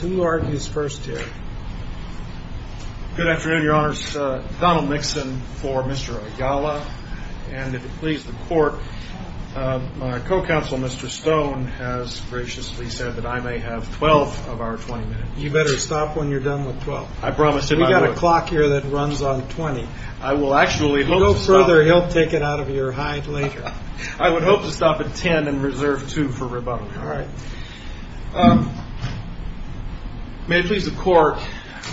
Who argues first here? Good afternoon, your honors. Donald Nixon for Mr. Ayala. And if it pleases the court, my co-counsel, Mr. Stone, has graciously said that I may have 12 of our 20 minutes. You better stop when you're done with 12. I promise. We've got a clock here that runs on 20. I will actually hope to stop. If you go further, he'll take it out of your hide later. All right. May it please the court,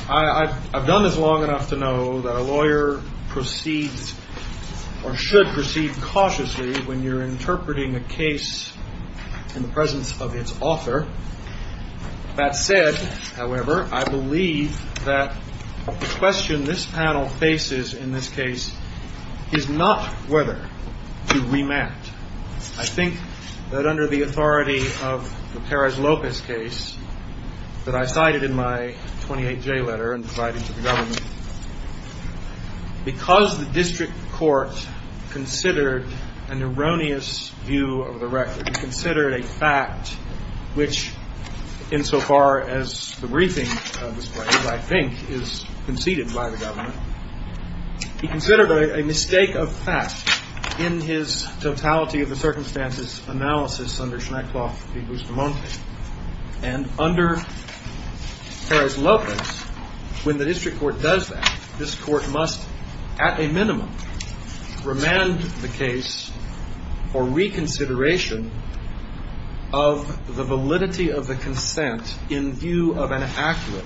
I've done this long enough to know that a lawyer should proceed cautiously when you're interpreting a case in the presence of its author. That said, however, I believe that the question this panel faces in this case is not whether to remand. I think that under the authority of the Perez-Lopez case that I cited in my 28-J letter and provided to the government, because the district court considered an erroneous view of the record, considered a fact which, insofar as the briefing displays, I think is conceded by the government, he considered a mistake of fact in his totality of the circumstances analysis under Schneckloff v. Bustamante. And under Perez-Lopez, when the district court does that, this court must at a minimum remand the case for reconsideration of the validity of the consent in view of an accurate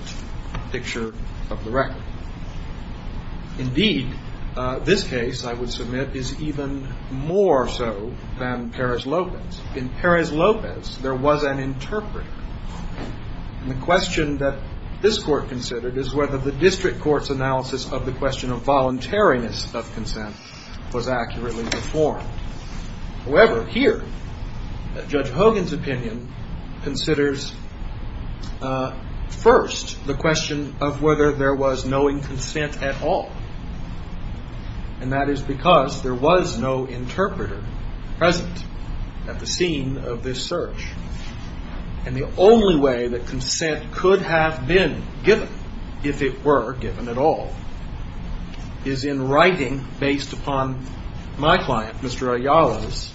picture of the record. Indeed, this case, I would submit, is even more so than Perez-Lopez. In Perez-Lopez, there was an interpreter. And the question that this court considered is whether the district court's analysis of the question of voluntariness of consent was accurately performed. However, here, Judge Hogan's opinion considers, first, the question of whether there was knowing consent at all. And that is because there was no interpreter present at the scene of this search. And the only way that consent could have been given, if it were given at all, is in writing based upon my client, Mr. Ayala's,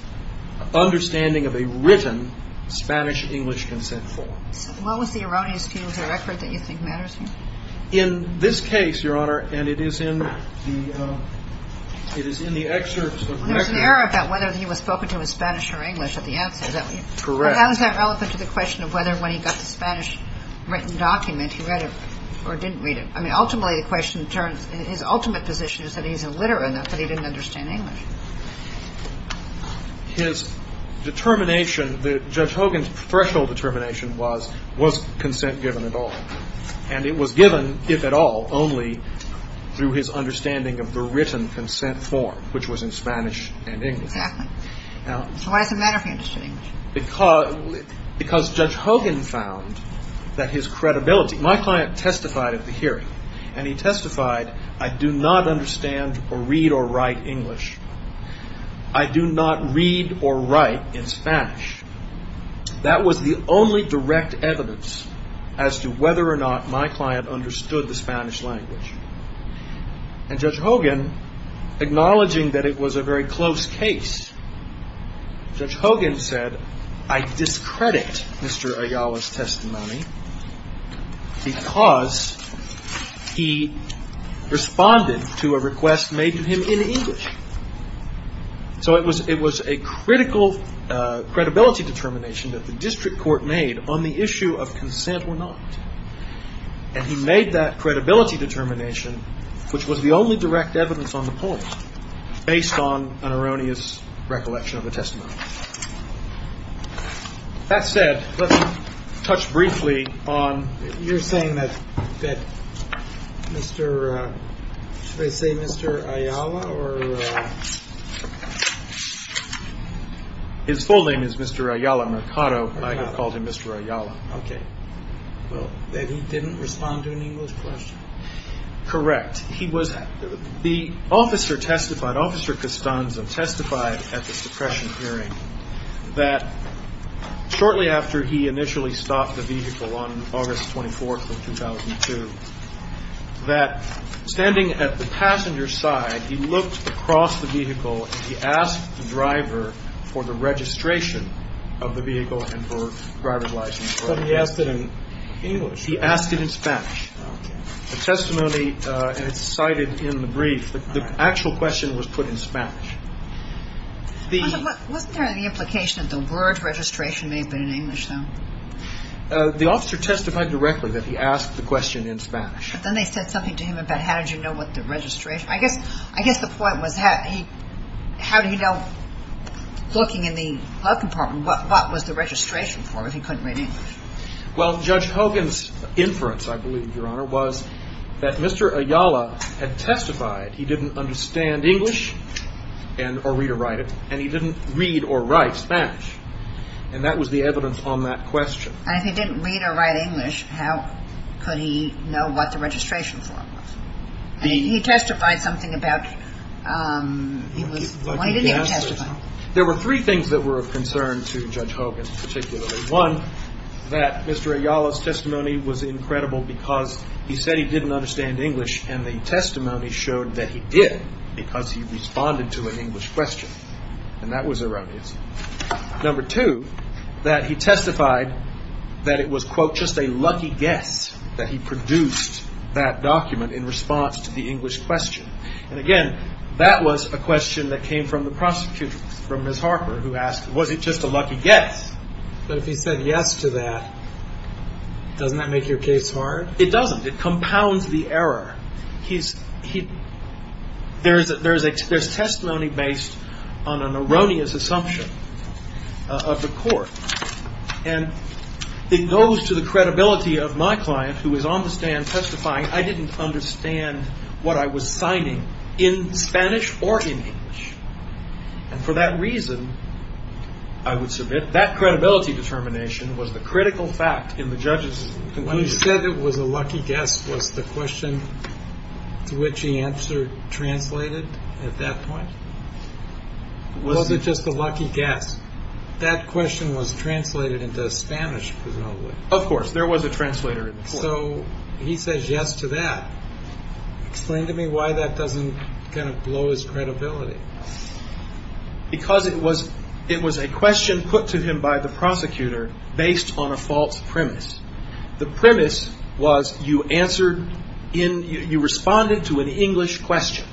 understanding of a written Spanish-English consent form. What was the erroneous view of the record that you think matters here? In this case, Your Honor, and it is in the excerpts of the record. There was an error about whether he was spoken to in Spanish or English at the outset. Correct. But how is that relevant to the question of whether, when he got the Spanish-written document, he read it or didn't read it? I mean, ultimately, the question turns, his ultimate position is that he's illiterate enough that he didn't understand English. His determination, Judge Hogan's threshold determination was, was consent given at all? And it was given, if at all, only through his understanding of the written consent form, which was in Spanish and English. Exactly. So why does it matter if he understood English? Because Judge Hogan found that his credibility, my client testified at the hearing, and he testified, I do not understand or read or write English. I do not read or write in Spanish. That was the only direct evidence as to whether or not my client understood the Spanish language. And Judge Hogan, acknowledging that it was a very close case, Judge Hogan said, I discredit Mr. Ayala's testimony because he responded to a request made to him in English. So it was a critical credibility determination that the district court made on the issue of consent or not. And he made that credibility determination, which was the only direct evidence on the point, based on an erroneous recollection of a testimony. That said, let me touch briefly on You're saying that Mr. Should I say Mr. Ayala or? His full name is Mr. Ayala Mercado. I have called him Mr. Ayala. Okay. Well, then he didn't respond to an English question. Correct. He was the officer testified. Testified at the suppression hearing that shortly after he initially stopped the vehicle on August 24th of 2002, that standing at the passenger side, he looked across the vehicle. He asked the driver for the registration of the vehicle and for driver's license. He asked it in English. He asked it in Spanish. The testimony is cited in the brief. The actual question was put in Spanish. Wasn't there any implication that the word registration may have been in English though? The officer testified directly that he asked the question in Spanish. But then they said something to him about how did you know what the registration. I guess the point was how did he know looking in the glove compartment, what was the registration for if he couldn't read English? Well, Judge Hogan's inference, I believe, Your Honor, was that Mr. Ayala had testified he didn't understand English or read or write it, and he didn't read or write Spanish. And that was the evidence on that question. And if he didn't read or write English, how could he know what the registration form was? He testified something about he didn't even testify. There were three things that were of concern to Judge Hogan particularly. One, that Mr. Ayala's testimony was incredible because he said he didn't understand English, and the testimony showed that he did because he responded to an English question. And that was erroneous. Number two, that he testified that it was, quote, just a lucky guess that he produced that document in response to the English question. And, again, that was a question that came from the prosecutor, from Ms. Harper, who asked, was it just a lucky guess? But if he said yes to that, doesn't that make your case hard? It doesn't. It compounds the error. There's testimony based on an erroneous assumption of the court. And it goes to the credibility of my client, who is on the stand testifying, I didn't understand what I was signing in Spanish or in English. And for that reason, I would submit, that credibility determination was the critical fact in the judge's conclusion. When he said it was a lucky guess, was the question to which he answered translated at that point? Was it just a lucky guess? That question was translated into Spanish, presumably. Of course. There was a translator in the court. So he says yes to that. Explain to me why that doesn't kind of blow his credibility. Because it was a question put to him by the prosecutor based on a false premise. The premise was you responded to an English question.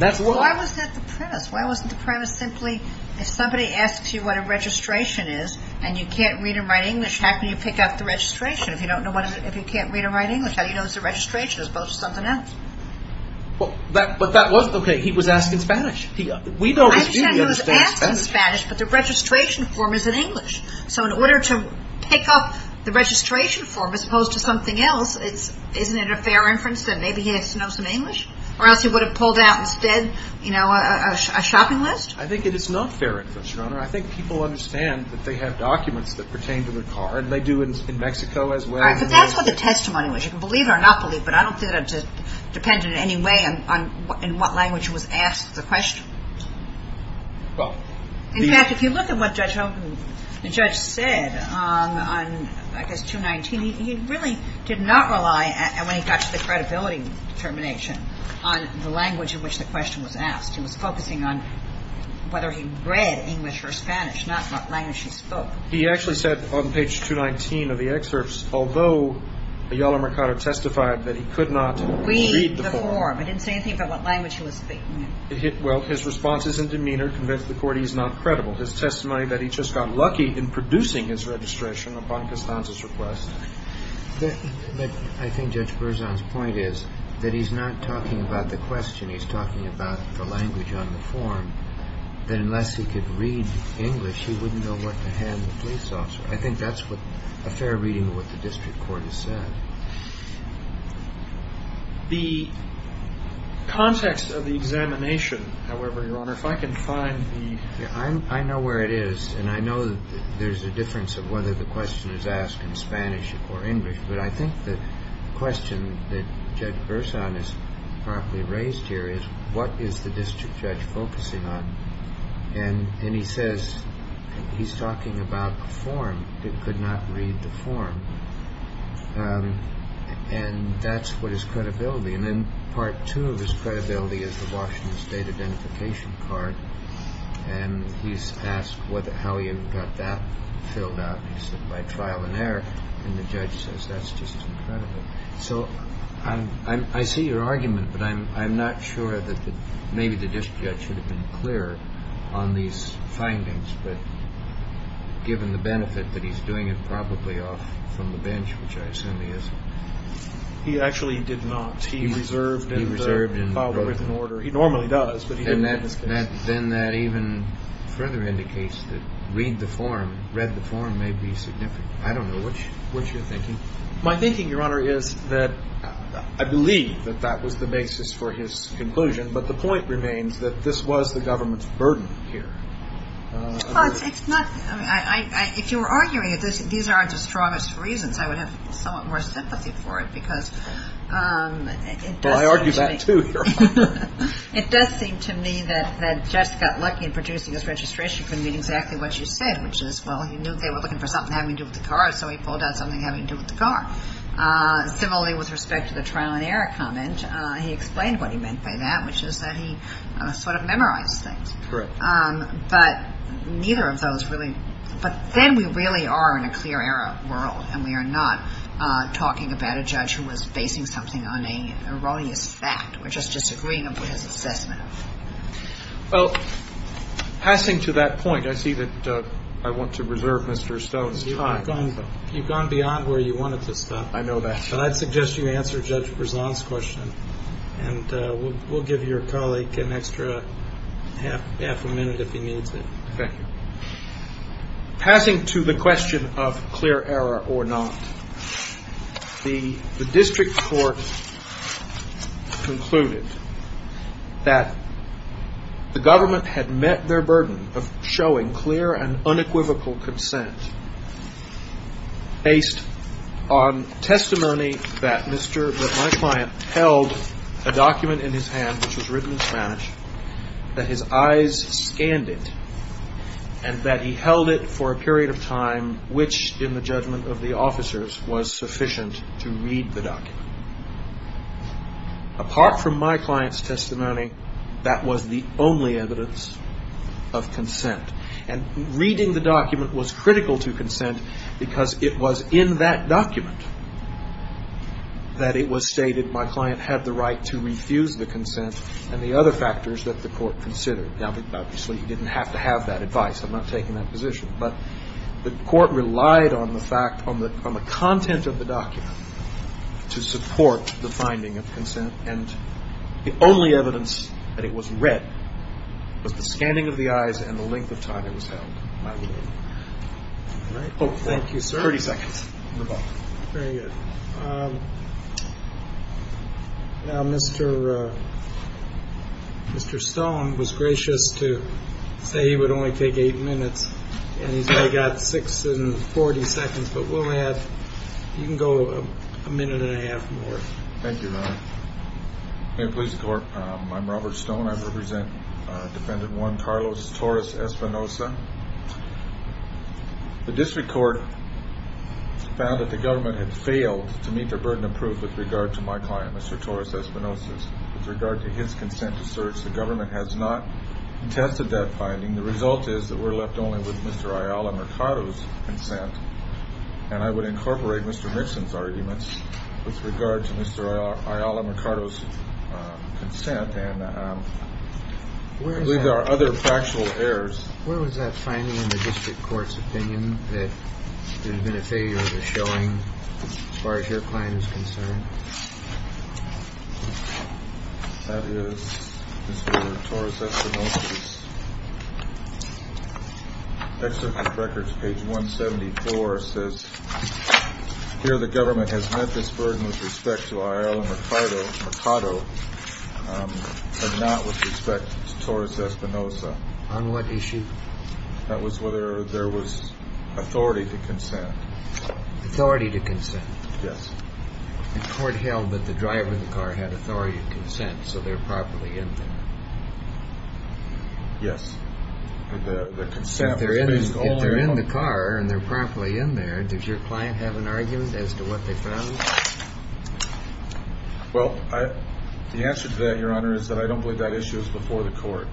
Why was that the premise? Why wasn't the premise simply if somebody asks you what a registration is and you can't read or write English, how can you pick out the registration? If you don't know what it is, if you can't read or write English, how do you know it's a registration as opposed to something else? But that was, okay, he was asking Spanish. I understand he was asking Spanish, but the registration form is in English. So in order to pick up the registration form as opposed to something else, isn't it a fair inference that maybe he just knows some English? Or else he would have pulled out instead a shopping list? I think it is not fair inference, Your Honor. I think people understand that they have documents that pertain to their car and they do in Mexico as well. That's what the testimony was. You can believe it or not believe it, but I don't think it depended in any way on in what language was asked the question. In fact, if you look at what the judge said on, I guess, 219, he really did not rely, when he got to the credibility determination, on the language in which the question was asked. He was focusing on whether he read English or Spanish, not what language he spoke. He actually said on page 219 of the excerpts, although Ayala Mercado testified that he could not read the form. Read the form. It didn't say anything about what language he was speaking. Well, his responses and demeanor convinced the Court he's not credible. His testimony that he just got lucky in producing his registration upon Costanza's request. But I think Judge Berzon's point is that he's not talking about the question. He's talking about the language on the form, that unless he could read English, he wouldn't know what to hand the police officer. I think that's a fair reading of what the district court has said. The context of the examination, however, Your Honor, if I can find the... I know where it is, and I know that there's a difference of whether the question is asked in Spanish or English, but I think the question that Judge Berzon has properly raised here is, what is the district judge focusing on? And he says he's talking about the form. He could not read the form. And that's what his credibility. And then part two of his credibility is the Washington State identification card. And he's asked how he got that filled out. And he said, by trial and error. And the judge says, that's just incredible. So I see your argument, but I'm not sure that maybe the district judge should have been clearer on these findings, but given the benefit that he's doing it probably off from the bench, which I assume he isn't. He actually did not. He reserved and filed it with an order. He normally does, but he didn't in this case. Then that even further indicates that read the form may be significant. I don't know what you're thinking. My thinking, Your Honor, is that I believe that that was the basis for his conclusion, but the point remains that this was the government's burden here. Well, it's not. I mean, if you were arguing that these aren't the strongest reasons, I would have somewhat more sympathy for it, because it does seem to me. Well, I argue that, too. It does seem to me that Jess got lucky in producing this registration from reading exactly what you said, which is, well, he knew they were looking for something having to do with the car, so he pulled out something having to do with the car. Similarly, with respect to the trial and error comment, he explained what he meant by that, which is that he sort of memorized things. Correct. But neither of those really – but then we really are in a clear error world, and we are not talking about a judge who was basing something on an erroneous fact or just disagreeing with his assessment. Well, passing to that point, I see that I want to reserve Mr. Stone's time. You've gone beyond where you wanted to stop. I know that. So I'd suggest you answer Judge Berzon's question, and we'll give your colleague an extra half a minute if he needs it. Thank you. Passing to the question of clear error or not, the district court concluded that the government had met their burden of showing clear and unequivocal consent based on testimony that my client held a document in his hand which was written in Spanish, that his eyes scanned it, and that he held it for a period of time which, in the judgment of the officers, was sufficient to read the document. Apart from my client's testimony, that was the only evidence of consent. And reading the document was critical to consent because it was in that document that it was stated my client had the right to refuse the consent and the other factors that the court considered. Now, obviously, you didn't have to have that advice. I'm not taking that position. But the court relied on the fact, on the content of the document, to support the finding of consent. And the only evidence that it was read was the scanning of the eyes and the length of time it was held by the woman. Thank you, sir. Thirty seconds. Very good. Now, Mr. Stone was gracious to say he would only take eight minutes, and he's only got six and 40 seconds. But we'll add you can go a minute and a half more. Thank you, Your Honor. Hey, police court. I'm Robert Stone. I represent Defendant 1, Carlos Torres Espinosa. The district court found that the government had failed to meet their burden of proof with regard to my client, Mr. Torres Espinosa, with regard to his consent to search. The government has not tested that finding. The result is that we're left only with Mr. Ayala Mercado's consent. And I would incorporate Mr. Nixon's arguments with regard to Mr. Ayala Mercado's consent. And I believe there are other factual errors. Where was that finding in the district court's opinion that there had been a failure of the showing, as far as your client is concerned? That is Mr. Torres Espinosa's. Excerpt from records, page 174, says, Here the government has met this burden with respect to Ayala Mercado, but not with respect to Torres Espinosa. On what issue? That was whether there was authority to consent. Authority to consent? Yes. The court held that the driver of the car had authority of consent, so they're properly in there. Yes. If they're in the car and they're properly in there, does your client have an argument as to what they found? Well, the answer to that, Your Honor, is that I don't believe that issue is before the court.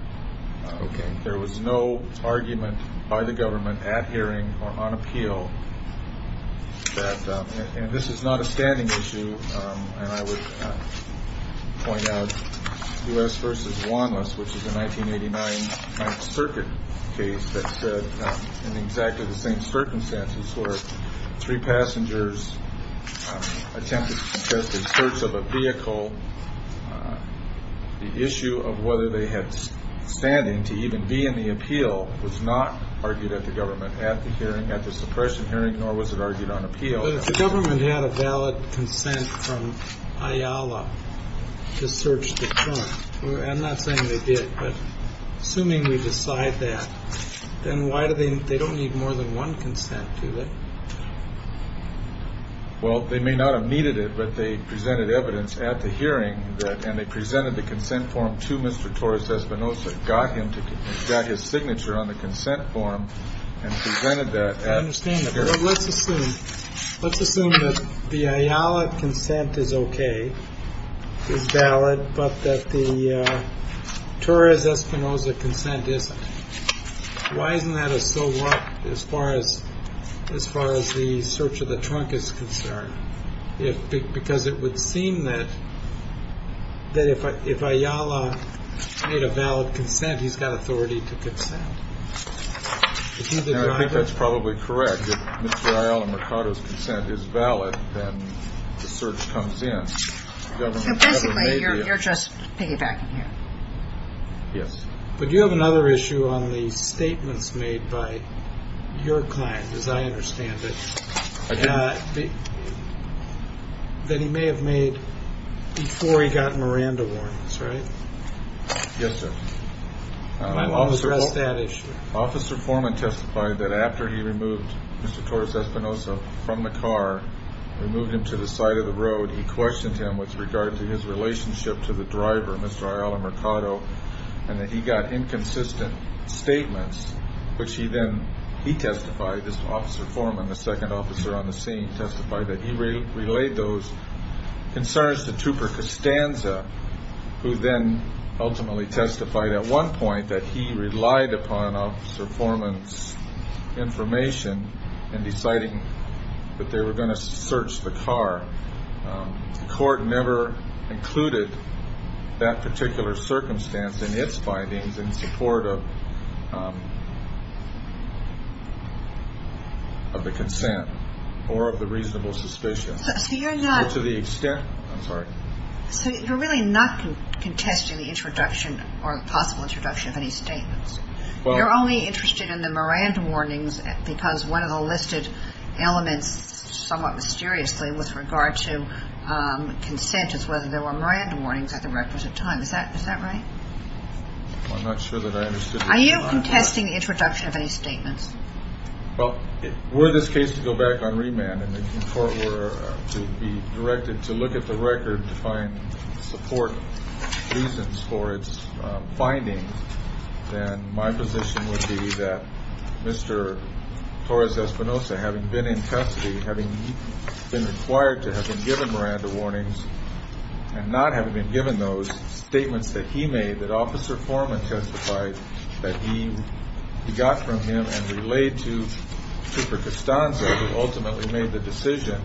Okay. There was no argument by the government at hearing or on appeal. And this is not a standing issue. And I would point out U.S. versus Juan, which is a 1989 circuit case that said in exactly the same circumstances, where three passengers attempted to contest the search of a vehicle. The issue of whether they had standing to even be in the appeal was not argued at the government at the hearing, at the suppression hearing, nor was it argued on appeal. But if the government had a valid consent from Ayala to search the car, I'm not saying they did, but assuming we decide that, then why do they they don't need more than one consent to it? Well, they may not have needed it, but they presented evidence at the hearing. And they presented the consent form to Mr. Torres Espinosa, got him to get his signature on the consent form and presented that. Let's assume let's assume that the Ayala consent is OK, is valid, but that the Torres Espinosa consent isn't. Why isn't that a so what as far as as far as the search of the trunk is concerned? Because it would seem that that if if Ayala made a valid consent, he's got authority to consent. I think that's probably correct. If Mr. Ayala and Mercado's consent is valid, then the search comes in. So basically, you're just piggybacking here. Yes. But you have another issue on the statements made by your client, as I understand it, that he may have made before he got Miranda warnings, right? Yes, sir. Officer Foreman testified that after he removed Mr. Torres Espinosa from the car, removed him to the side of the road, he questioned him with regard to his relationship to the driver, Mr. Ayala Mercado, and that he got inconsistent statements, which he then he testified, this officer Foreman, the second officer on the scene testified that he relayed those concerns to Tupper Costanza, who then ultimately testified at one point that he relied upon officer Foreman's information in deciding that they were going to search the car. The court never included that particular circumstance in its findings in support of the consent or of the reasonable suspicion. So you're really not contesting the introduction or possible introduction of any statements? You're only interested in the Miranda warnings because one of the listed elements, somewhat mysteriously, with regard to consent is whether there were Miranda warnings at the requisite time. Is that right? I'm not sure that I understood. Are you contesting the introduction of any statements? Well, were this case to go back on remand and the court were to be directed to look at the record to find support reasons for its findings, then my position would be that Mr. Torres Espinosa, having been in custody, having been required to have been given Miranda warnings and not having been given those statements that he made, that Officer Foreman testified that he got from him and relayed to Tupper Costanza, who ultimately made the decision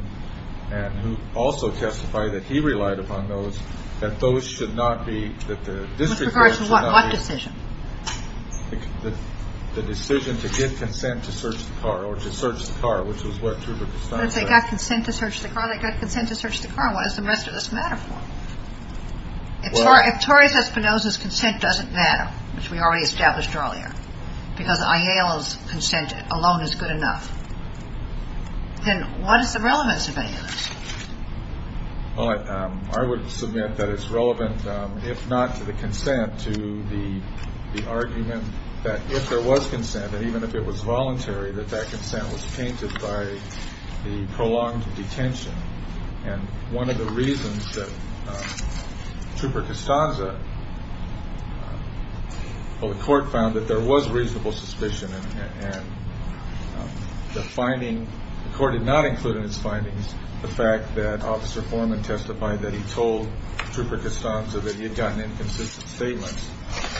and who also testified that he relied upon those, that those should not be, that the district should not be. With regards to what decision? The decision to give consent to search the car or to search the car, which was what Tupper Costanza said. They got consent to search the car, they got consent to search the car. What does the rest of this matter for? If Torres Espinosa's consent doesn't matter, which we already established earlier, because Ayala's consent alone is good enough, then what is the relevance of any of this? Well, I would submit that it's relevant, if not to the consent, to the argument that if there was consent, and even if it was voluntary, that that consent was tainted by the prolonged detention. And one of the reasons that Tupper Costanza, well, the court found that there was reasonable suspicion, and the finding, the court did not include in its findings the fact that Officer Foreman testified that he told Tupper Costanza that he had gotten inconsistent statements.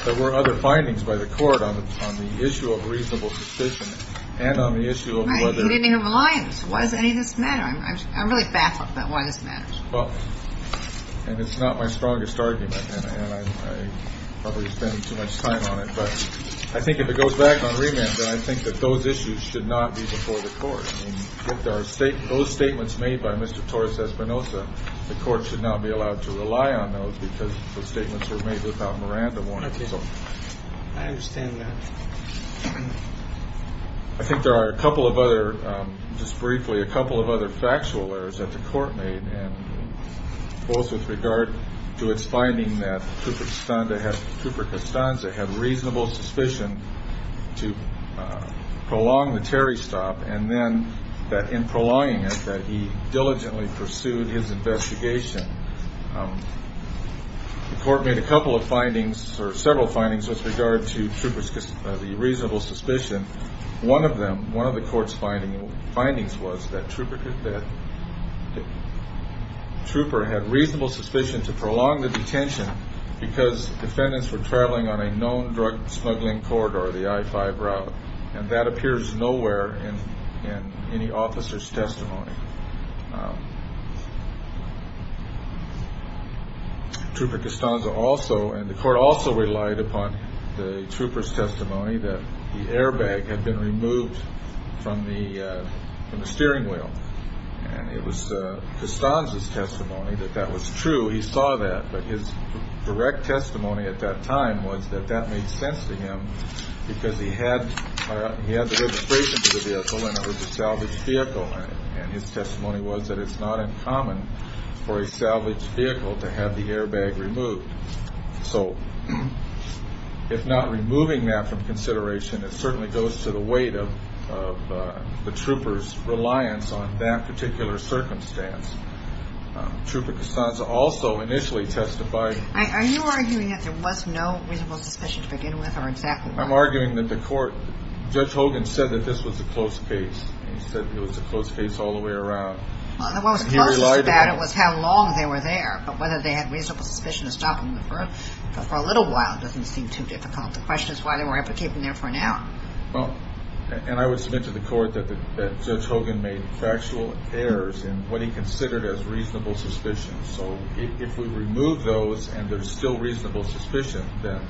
There were other findings by the court on the issue of reasonable suspicion and on the issue of whether- Well, and it's not my strongest argument, and I probably spend too much time on it. But I think if it goes back on remand, then I think that those issues should not be before the court. Those statements made by Mr. Torres Espinosa, the court should not be allowed to rely on those because the statements were made without Miranda warning. I understand that. I think there are a couple of other, just briefly, a couple of other factual errors that the court made, both with regard to its finding that Tupper Costanza had reasonable suspicion to prolong the Terry stop, and then that in prolonging it, that he diligently pursued his investigation. The court made a couple of findings, or several findings, with regard to the reasonable suspicion. One of them, one of the court's findings was that Tupper had reasonable suspicion to prolong the detention because defendants were traveling on a known drug smuggling corridor, the I-5 route, and that appears nowhere in any officer's testimony. Tupper Costanza also, and the court also relied upon the trooper's testimony that the airbag had been removed from the steering wheel. And it was Costanza's testimony that that was true. He saw that. But his direct testimony at that time was that that made sense to him because he had the registration for the vehicle, and it was a salvaged vehicle. And his testimony was that it's not uncommon for a salvaged vehicle to have the airbag removed. So if not removing that from consideration, it certainly goes to the weight of the trooper's reliance on that particular circumstance. Tupper Costanza also initially testified. Are you arguing that there was no reasonable suspicion to begin with, or exactly what? I'm arguing that the court, Judge Hogan said that this was a close case. He said it was a close case all the way around. Well, the closest about it was how long they were there, but whether they had reasonable suspicion of stopping them for a little while doesn't seem too difficult. The question is why they were able to keep them there for an hour. Well, and I would submit to the court that Judge Hogan made factual errors in what he considered as reasonable suspicions. So if we remove those and there's still reasonable suspicion, then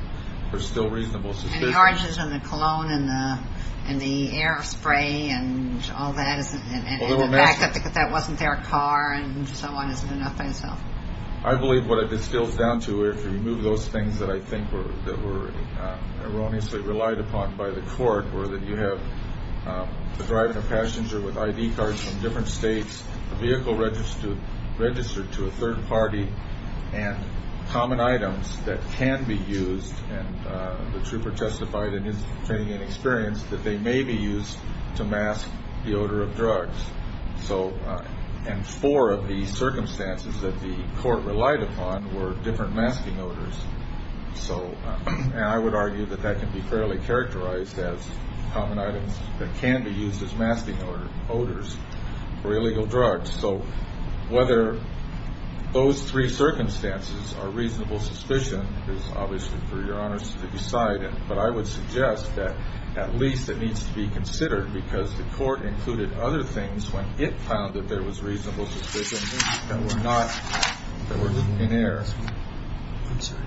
there's still reasonable suspicion. And the oranges and the cologne and the air spray and all that, and the fact that that wasn't their car and so on isn't enough by itself. I believe what this boils down to, if you remove those things that I think were erroneously relied upon by the court, were that you have the driver and passenger with ID cards from different states, the vehicle registered to a third party, and common items that can be used, and the trooper testified in his training and experience that they may be used to mask the odor of drugs. And four of the circumstances that the court relied upon were different masking odors. And I would argue that that can be fairly characterized as common items that can be used as masking odors or illegal drugs. So whether those three circumstances are reasonable suspicion is obviously for Your Honors to decide. But I would suggest that at least it needs to be considered because the court included other things when it found that there was reasonable suspicion that were not, that were in error. I'm sorry.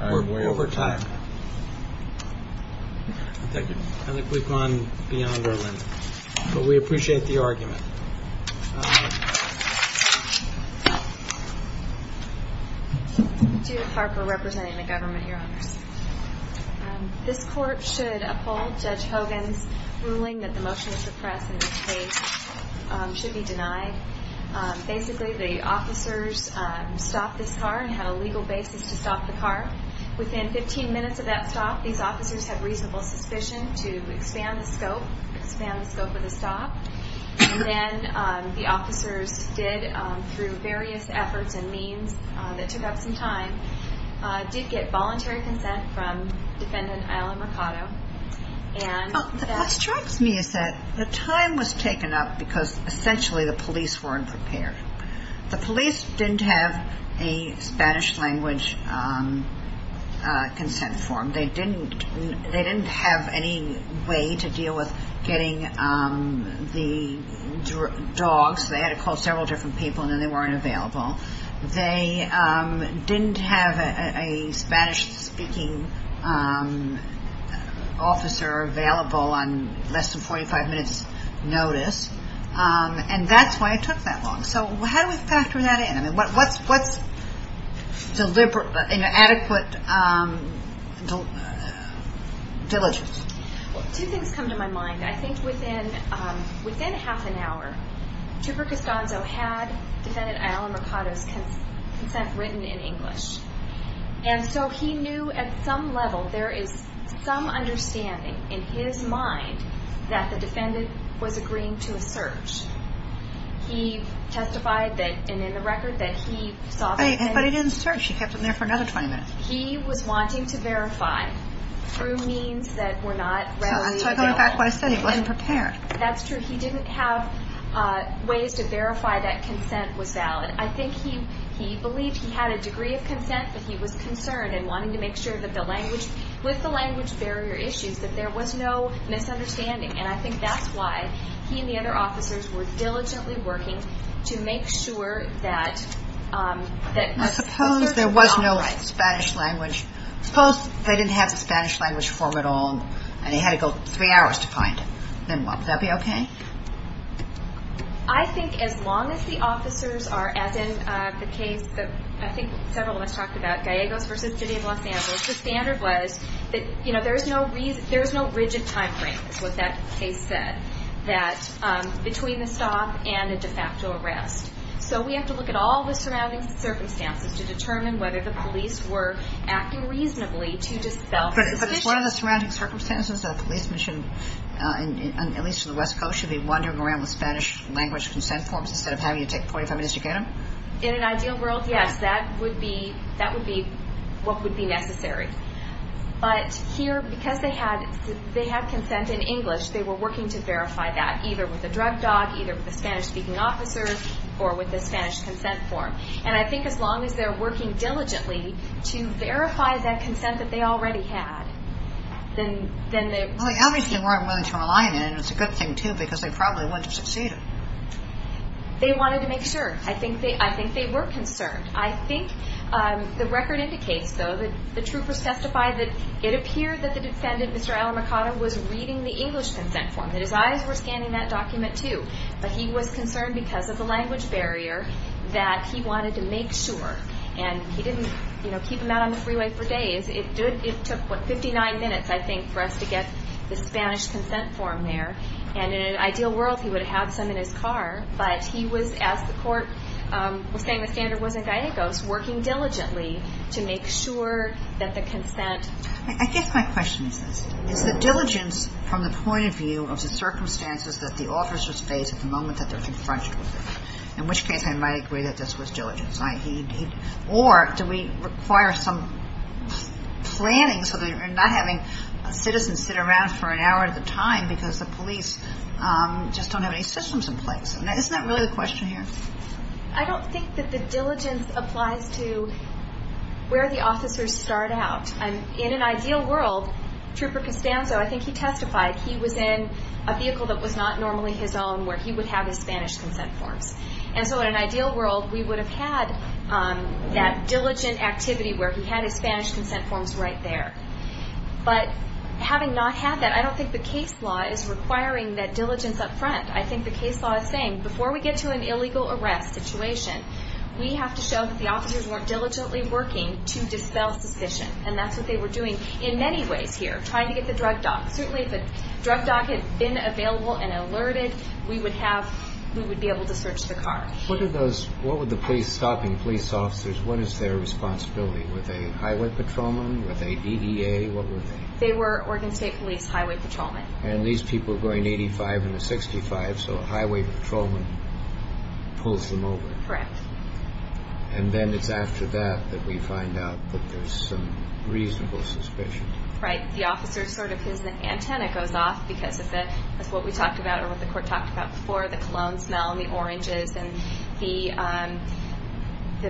I'm way over time. Thank you. I think we've gone beyond our limit. But we appreciate the argument. Judith Harper representing the government, Your Honors. This court should uphold Judge Hogan's ruling that the motion to suppress in this case should be denied. Basically, the officers stopped this car and had a legal basis to stop the car. Within 15 minutes of that stop, these officers had reasonable suspicion to expand the scope, expand the scope of the stop. And then the officers did, through various efforts and means that took up some time, did get voluntary consent from Defendant Isla Mercado. What strikes me is that the time was taken up because essentially the police weren't prepared. The police didn't have a Spanish-language consent form. They didn't have any way to deal with getting the dogs. They had to call several different people and then they weren't available. They didn't have a Spanish-speaking officer available on less than 45 minutes' notice. And that's why it took that long. So how do we factor that in? What's adequate diligence? Two things come to my mind. I think within half an hour, Trooper Costanzo had Defendant Isla Mercado's consent written in English. And so he knew at some level, there is some understanding in his mind, that the defendant was agreeing to a search. He testified that, and in the record, that he saw the evidence. But he didn't search. He kept him there for another 20 minutes. He was wanting to verify through means that were not readily available. So I'm coming back to what I said. He wasn't prepared. That's true. He didn't have ways to verify that consent was valid. I think he believed he had a degree of consent, but he was concerned and wanting to make sure that the language with the language barrier issues, that there was no misunderstanding. And I think that's why he and the other officers were diligently working to make sure that I suppose there was no Spanish language. Suppose they didn't have the Spanish language form at all and he had to go three hours to find it. Then would that be okay? I think as long as the officers are, as in the case that I think several of us talked about, Gallegos v. City of Los Angeles, the standard was that there's no rigid time frame, is what that case said, between the stop and a de facto arrest. So we have to look at all the surrounding circumstances to determine whether the police were acting reasonably to dispel the suspicion. But is one of the surrounding circumstances that a police mission, at least in the West Coast, should be wandering around with Spanish language consent forms instead of having to take 45 minutes to get them? In an ideal world, yes. That would be what would be necessary. But here, because they had consent in English, they were working to verify that, either with a drug dog, either with a Spanish-speaking officer, or with the Spanish consent form. And I think as long as they're working diligently to verify that consent that they already had, then the... Well, they obviously weren't willing to rely on it, and it's a good thing, too, because they probably wouldn't have succeeded. They wanted to make sure. I think they were concerned. I think the record indicates, though, that the troopers testified that it appeared that the defendant, Mr. Alamacata, was reading the English consent form, that his eyes were scanning that document, too. But he was concerned because of the language barrier that he wanted to make sure. And he didn't keep him out on the freeway for days. It took, what, 59 minutes, I think, for us to get the Spanish consent form there. And in an ideal world, he would have some in his car. But he was, as the court was saying the standard was in Gallegos, working diligently to make sure that the consent... I guess my question is this. From the point of view of the circumstances that the officers face at the moment that they're confronted with it, in which case I might agree that this was diligence. Or do we require some planning so that you're not having citizens sit around for an hour at a time because the police just don't have any systems in place? Isn't that really the question here? I don't think that the diligence applies to where the officers start out. In an ideal world, Trooper Costanzo, I think he testified, he was in a vehicle that was not normally his own where he would have his Spanish consent forms. And so in an ideal world, we would have had that diligent activity where he had his Spanish consent forms right there. But having not had that, I don't think the case law is requiring that diligence up front. I think the case law is saying, before we get to an illegal arrest situation, we have to show that the officers weren't diligently working to dispel suspicion. And that's what they were doing in many ways here, trying to get the drug doc. Certainly if a drug doc had been available and alerted, we would be able to search the car. What would the police, stopping police officers, what is their responsibility? Were they highway patrolmen? Were they DDA? What were they? They were Oregon State Police highway patrolmen. And these people are going 85 and a 65, so a highway patrolman pulls them over. Correct. And then it's after that that we find out that there's some reasonable suspicion. Right. The officer's sort of, his antenna goes off because of what we talked about or what the court talked about before, the cologne smell and the oranges and the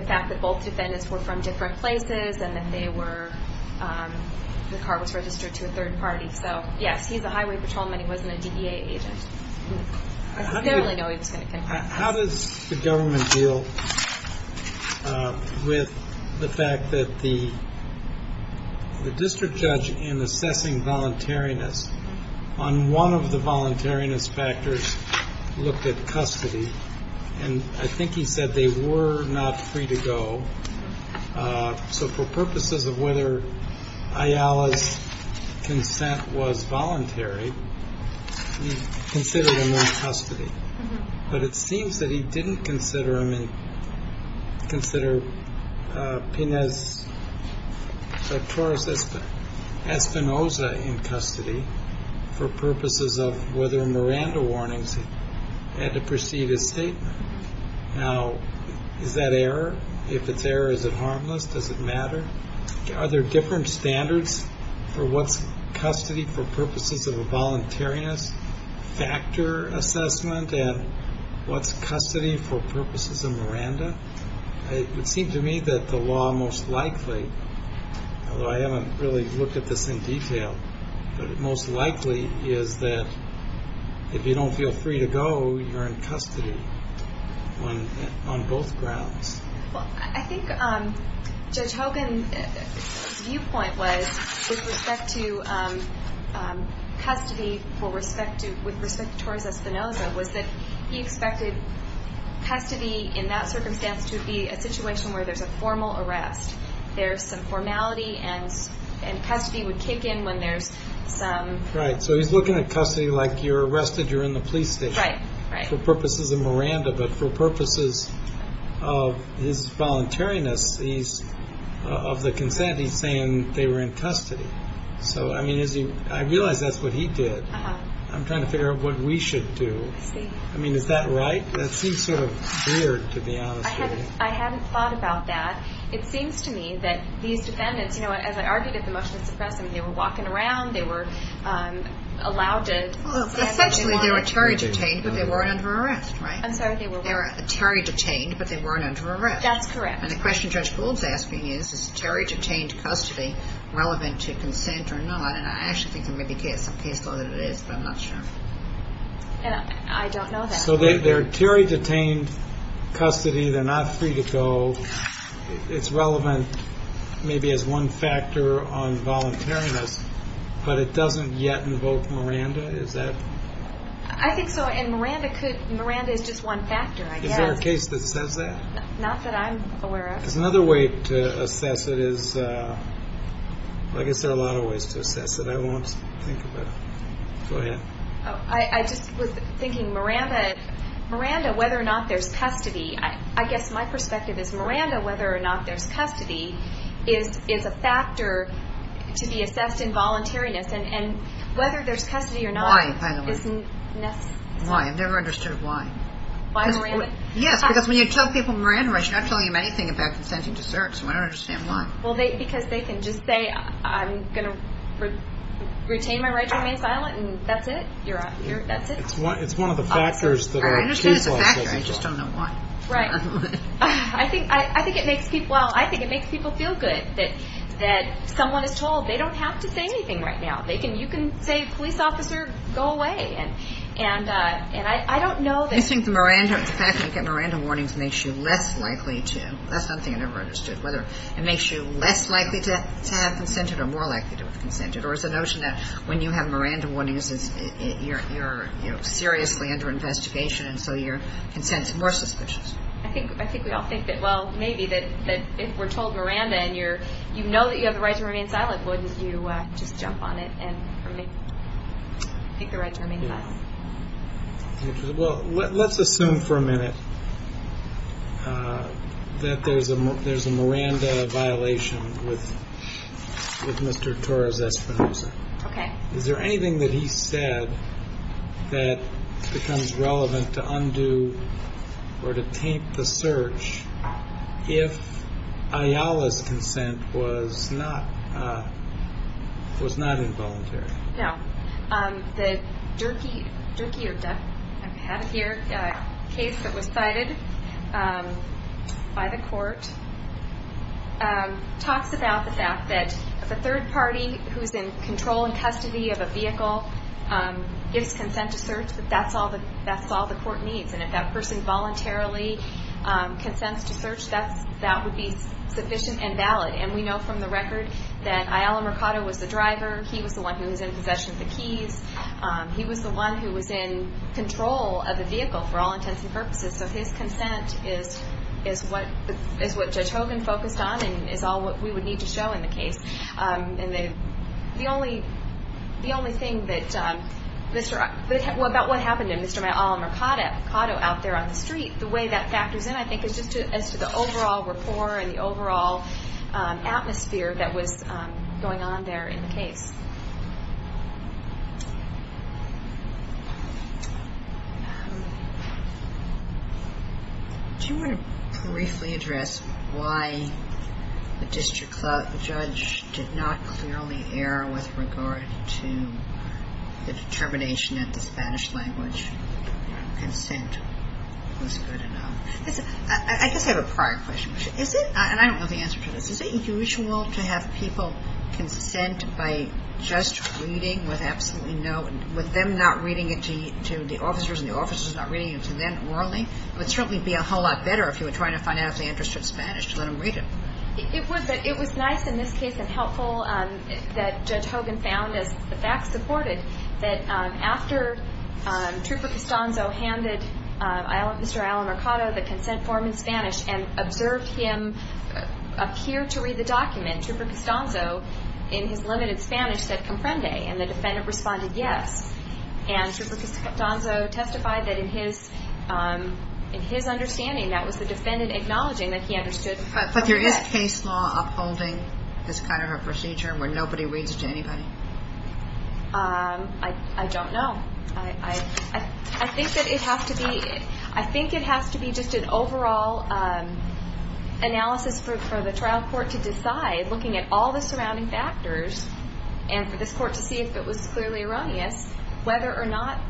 fact that both defendants were from different places and that they were, the car was registered to a third party. So yes, he's a highway patrolman. He wasn't a DDA agent. I didn't really know he was going to confess. How does the government deal with the fact that the district judge in assessing voluntariness, on one of the voluntariness factors, looked at custody. And I think he said they were not free to go. So for purposes of whether Ayala's consent was voluntary, he considered him in custody. But it seems that he didn't consider him in, consider Pines Espinosa in custody for purposes of whether Miranda warnings had to precede his statement. Now, is that error? If it's error, is it harmless? Does it matter? Are there different standards for what's custody for purposes of a voluntariness factor assessment and what's custody for purposes of Miranda? It would seem to me that the law most likely, although I haven't really looked at this in detail, but it most likely is that if you don't feel free to go, you're in custody on both grounds. Well, I think Judge Hogan's viewpoint was, with respect to custody, with respect to Torres Espinosa, was that he expected custody in that circumstance to be a situation where there's a formal arrest. There's some formality, and custody would kick in when there's some... Right, so he's looking at custody like you're arrested, you're in the police station. Right, right. For purposes of Miranda, but for purposes of his voluntariness, of the consent, he's saying they were in custody. So, I mean, I realize that's what he did. I'm trying to figure out what we should do. I see. I mean, is that right? That seems sort of weird, to be honest with you. I hadn't thought about that. It seems to me that these defendants, you know, as I argued at the motion to suppress them, they were walking around, they were allowed to... Well, essentially they were Terry detained, but they weren't under arrest, right? I'm sorry, they were what? They were Terry detained, but they weren't under arrest. That's correct. And the question Judge Gould's asking is, is Terry detained custody relevant to consent or not? And I actually think there may be some case law that it is, but I'm not sure. I don't know that. So they're Terry detained custody, they're not free to go, it's relevant maybe as one factor on voluntariness, but it doesn't yet invoke Miranda, is that? I think so, and Miranda is just one factor, I guess. Is there a case that says that? Not that I'm aware of. There's another way to assess it is, well, I guess there are a lot of ways to assess it. I won't think about it. Go ahead. I just was thinking Miranda, whether or not there's custody, I guess my perspective is Miranda, whether or not there's custody, is a factor to be assessed in voluntariness, and whether there's custody or not isn't necessary. Why, by the way? Why? I've never understood why. Why Miranda? Yes, because when you tell people Miranda, you're not telling them anything about consenting to search, so I don't understand why. Well, because they can just say, I'm going to retain my right to remain silent, and that's it. That's it. It's one of the factors that are key. I don't think it's a factor, I just don't know why. Right. I think it makes people feel good that someone is told they don't have to say anything right now. You can say, police officer, go away, and I don't know that. I think the fact that you get Miranda warnings makes you less likely to. That's one thing I never understood, whether it makes you less likely to have consented or more likely to have consented, or is the notion that when you have Miranda warnings, you're seriously under investigation, and so your consent is more suspicious. I think we all think that, well, maybe that if we're told Miranda, and you know that you have the right to remain silent, wouldn't you just jump on it and make the right to remain silent? Well, let's assume for a minute that there's a Miranda violation with Mr. Torres-Espinosa. Okay. Is there anything that he said that becomes relevant to undo or to taint the search if Ayala's consent was not involuntary? No. The Durkee case that was cited by the court talks about the fact that if a third party who's in control and custody of a vehicle gives consent to search, that's all the court needs, and if that person voluntarily consents to search, that would be sufficient and valid, and we know from the record that Ayala Mercado was the driver. He was the one who was in possession of the keys. He was the one who was in control of the vehicle for all intents and purposes, so his consent is what Judge Hogan focused on and is all what we would need to show in the case, and the only thing about what happened to Mr. Ayala Mercado out there on the street, the way that factors in I think is just as to the overall rapport and the overall atmosphere that was going on there in the case. Do you want to briefly address why the district judge did not clearly err with regard to the determination that the Spanish language consent was good enough? I guess I have a prior question, and I don't know the answer to this. Is it usual to have people consent by just reading with absolutely no, with them not reading it to the officers and the officers not reading it to them orally? It would certainly be a whole lot better if you were trying to find out if they understood Spanish to let them read it. It was nice in this case and helpful that Judge Hogan found, as the facts supported, that after Trooper Costanzo handed Mr. Ayala Mercado the consent form in Spanish and observed him appear to read the document, Trooper Costanzo, in his limited Spanish, said comprende, and the defendant responded yes, and Trooper Costanzo testified that in his understanding, that was the defendant acknowledging that he understood. But there is case law upholding this kind of a procedure where nobody reads it to anybody? I don't know. I think that it has to be just an overall analysis for the trial court to decide, looking at all the surrounding factors, and for this court to see if it was clearly erroneous, whether or not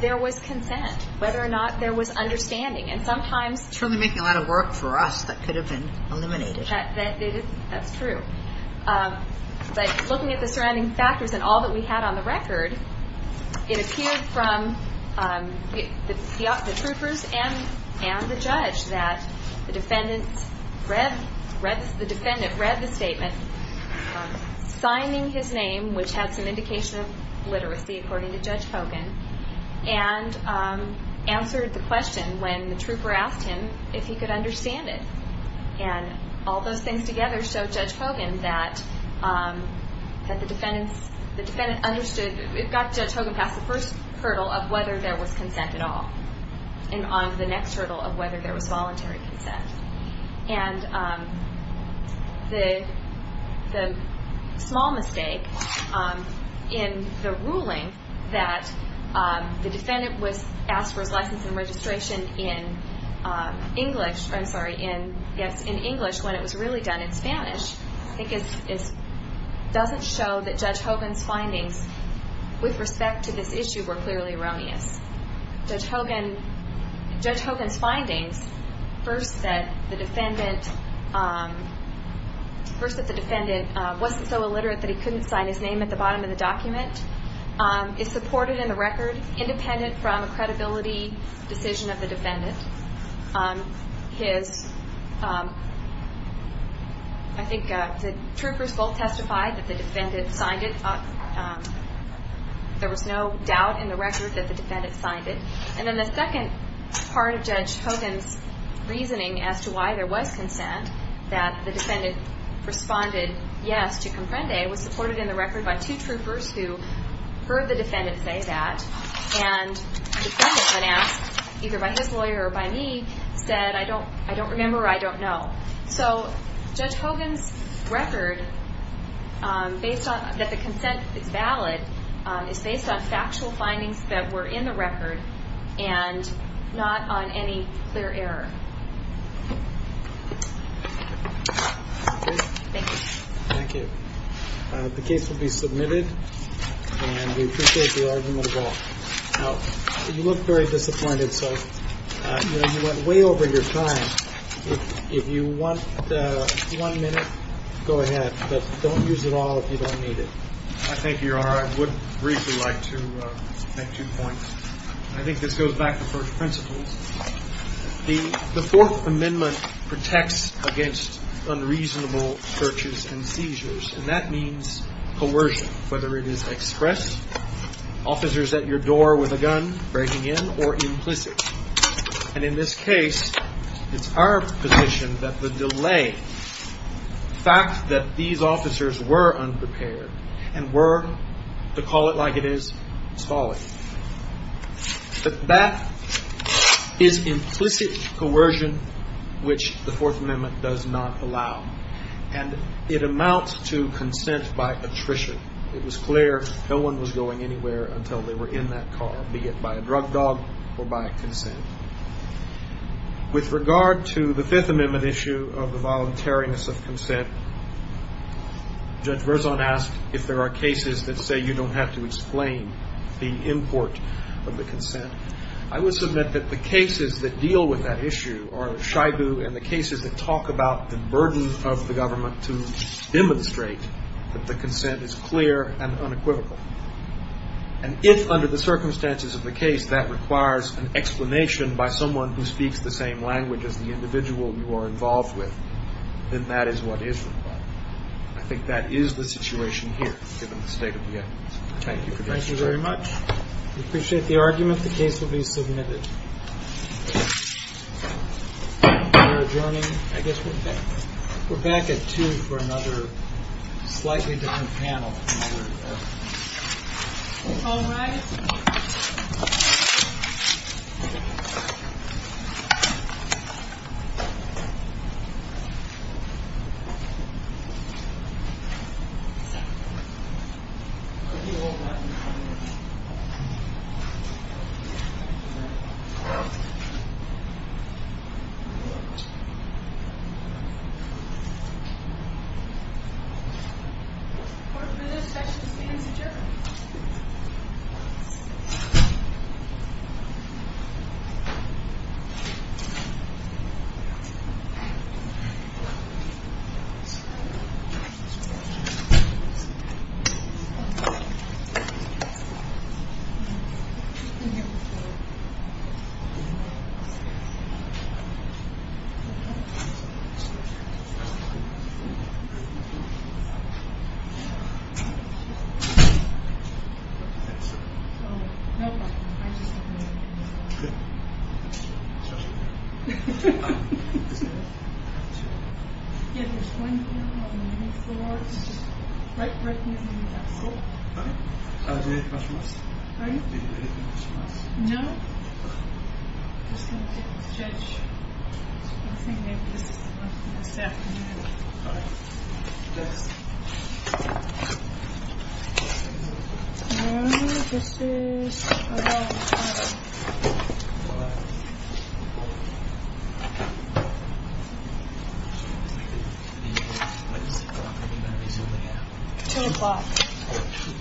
there was consent, whether or not there was understanding. It's really making a lot of work for us that could have been eliminated. That's true. But looking at the surrounding factors and all that we had on the record, it appeared from the troopers and the judge that the defendant read the statement, signing his name, which had some indication of literacy, according to Judge Hogan, and answered the question when the trooper asked him if he could understand it. And all those things together showed Judge Hogan that the defendant understood. It got Judge Hogan past the first hurdle of whether there was consent at all and on to the next hurdle of whether there was voluntary consent. And the small mistake in the ruling that the defendant was asked for his license and registration in English when it was really done in Spanish, I think doesn't show that Judge Hogan's findings with respect to this issue were clearly erroneous. Judge Hogan's findings first said that the defendant wasn't so illiterate that he couldn't sign his name at the bottom of the document. It's supported in the record, independent from a credibility decision of the defendant. I think the troopers both testified that the defendant signed it. There was no doubt in the record that the defendant signed it. And then the second part of Judge Hogan's reasoning as to why there was consent, that the defendant responded yes to comprende, was supported in the record by two troopers who heard the defendant say that. And the defendant, when asked, either by his lawyer or by me, said, I don't remember or I don't know. So Judge Hogan's record, that the consent is valid, is based on factual findings that were in the record and not on any clear error. Thank you. Thank you. The case will be submitted, and we appreciate the argument at all. Now, you look very disappointed, so you went way over your time. If you want one minute, go ahead. But don't use it all if you don't need it. Thank you, Your Honor. I would briefly like to make two points. I think this goes back to first principles. The Fourth Amendment protects against unreasonable searches and seizures, and that means coercion, whether it is express, officers at your door with a gun breaking in, or implicit. And in this case, it's our position that the delay, the fact that these officers were unprepared and were, to call it like it is, stalling, that that is implicit coercion which the Fourth Amendment does not allow. And it amounts to consent by attrition. It was clear no one was going anywhere until they were in that car, be it by a drug dog or by consent. With regard to the Fifth Amendment issue of the voluntariness of consent, Judge Verzon asked if there are cases that say you don't have to explain the import of the consent. I would submit that the cases that deal with that issue are a shibu, and the cases that talk about the burden of the government to demonstrate that the consent is clear and unequivocal. And if, under the circumstances of the case, that requires an explanation by someone who speaks the same language as the individual you are involved with, then that is what is required. I think that is the situation here, given the state of the evidence. Thank you for your time. Thank you very much. We appreciate the argument. The case will be submitted. We're adjourning. I guess we're back at 2 for another slightly different panel. All rise. This session is being adjourned. Thank you. Thank you, sir. No problem. I just didn't know you were going to be here. I'm sorry. I'm sorry. I'm sorry. I'm sorry. I'm sorry. Yeah, there's one here on the floor. It's just right beneath me. That's all. All right. I'll do it if I must. Pardon? I'll do it if I must. No. Okay. I'm just going to get the judge. I think maybe this is enough for this afternoon. All right. Thanks. All right. This is about time. 2 o'clock. 2 o'clock. 2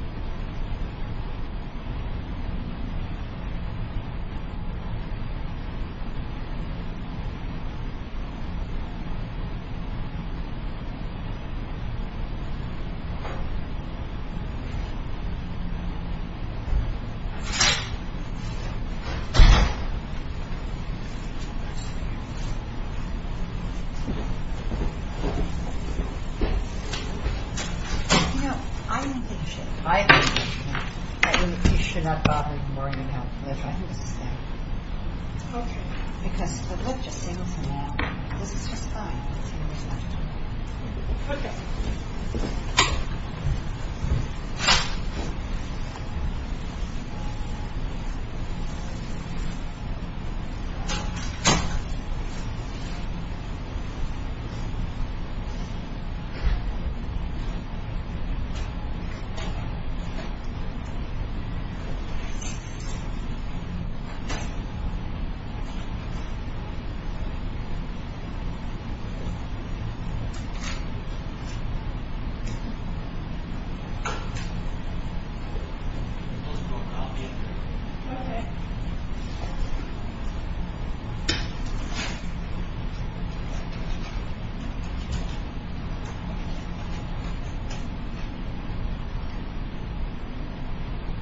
o'clock. 2 o'clock. 2 o'clock. 2 o'clock. All right. I'll get it. All right. Thank you. Thank you. Okay. Okay. Okay.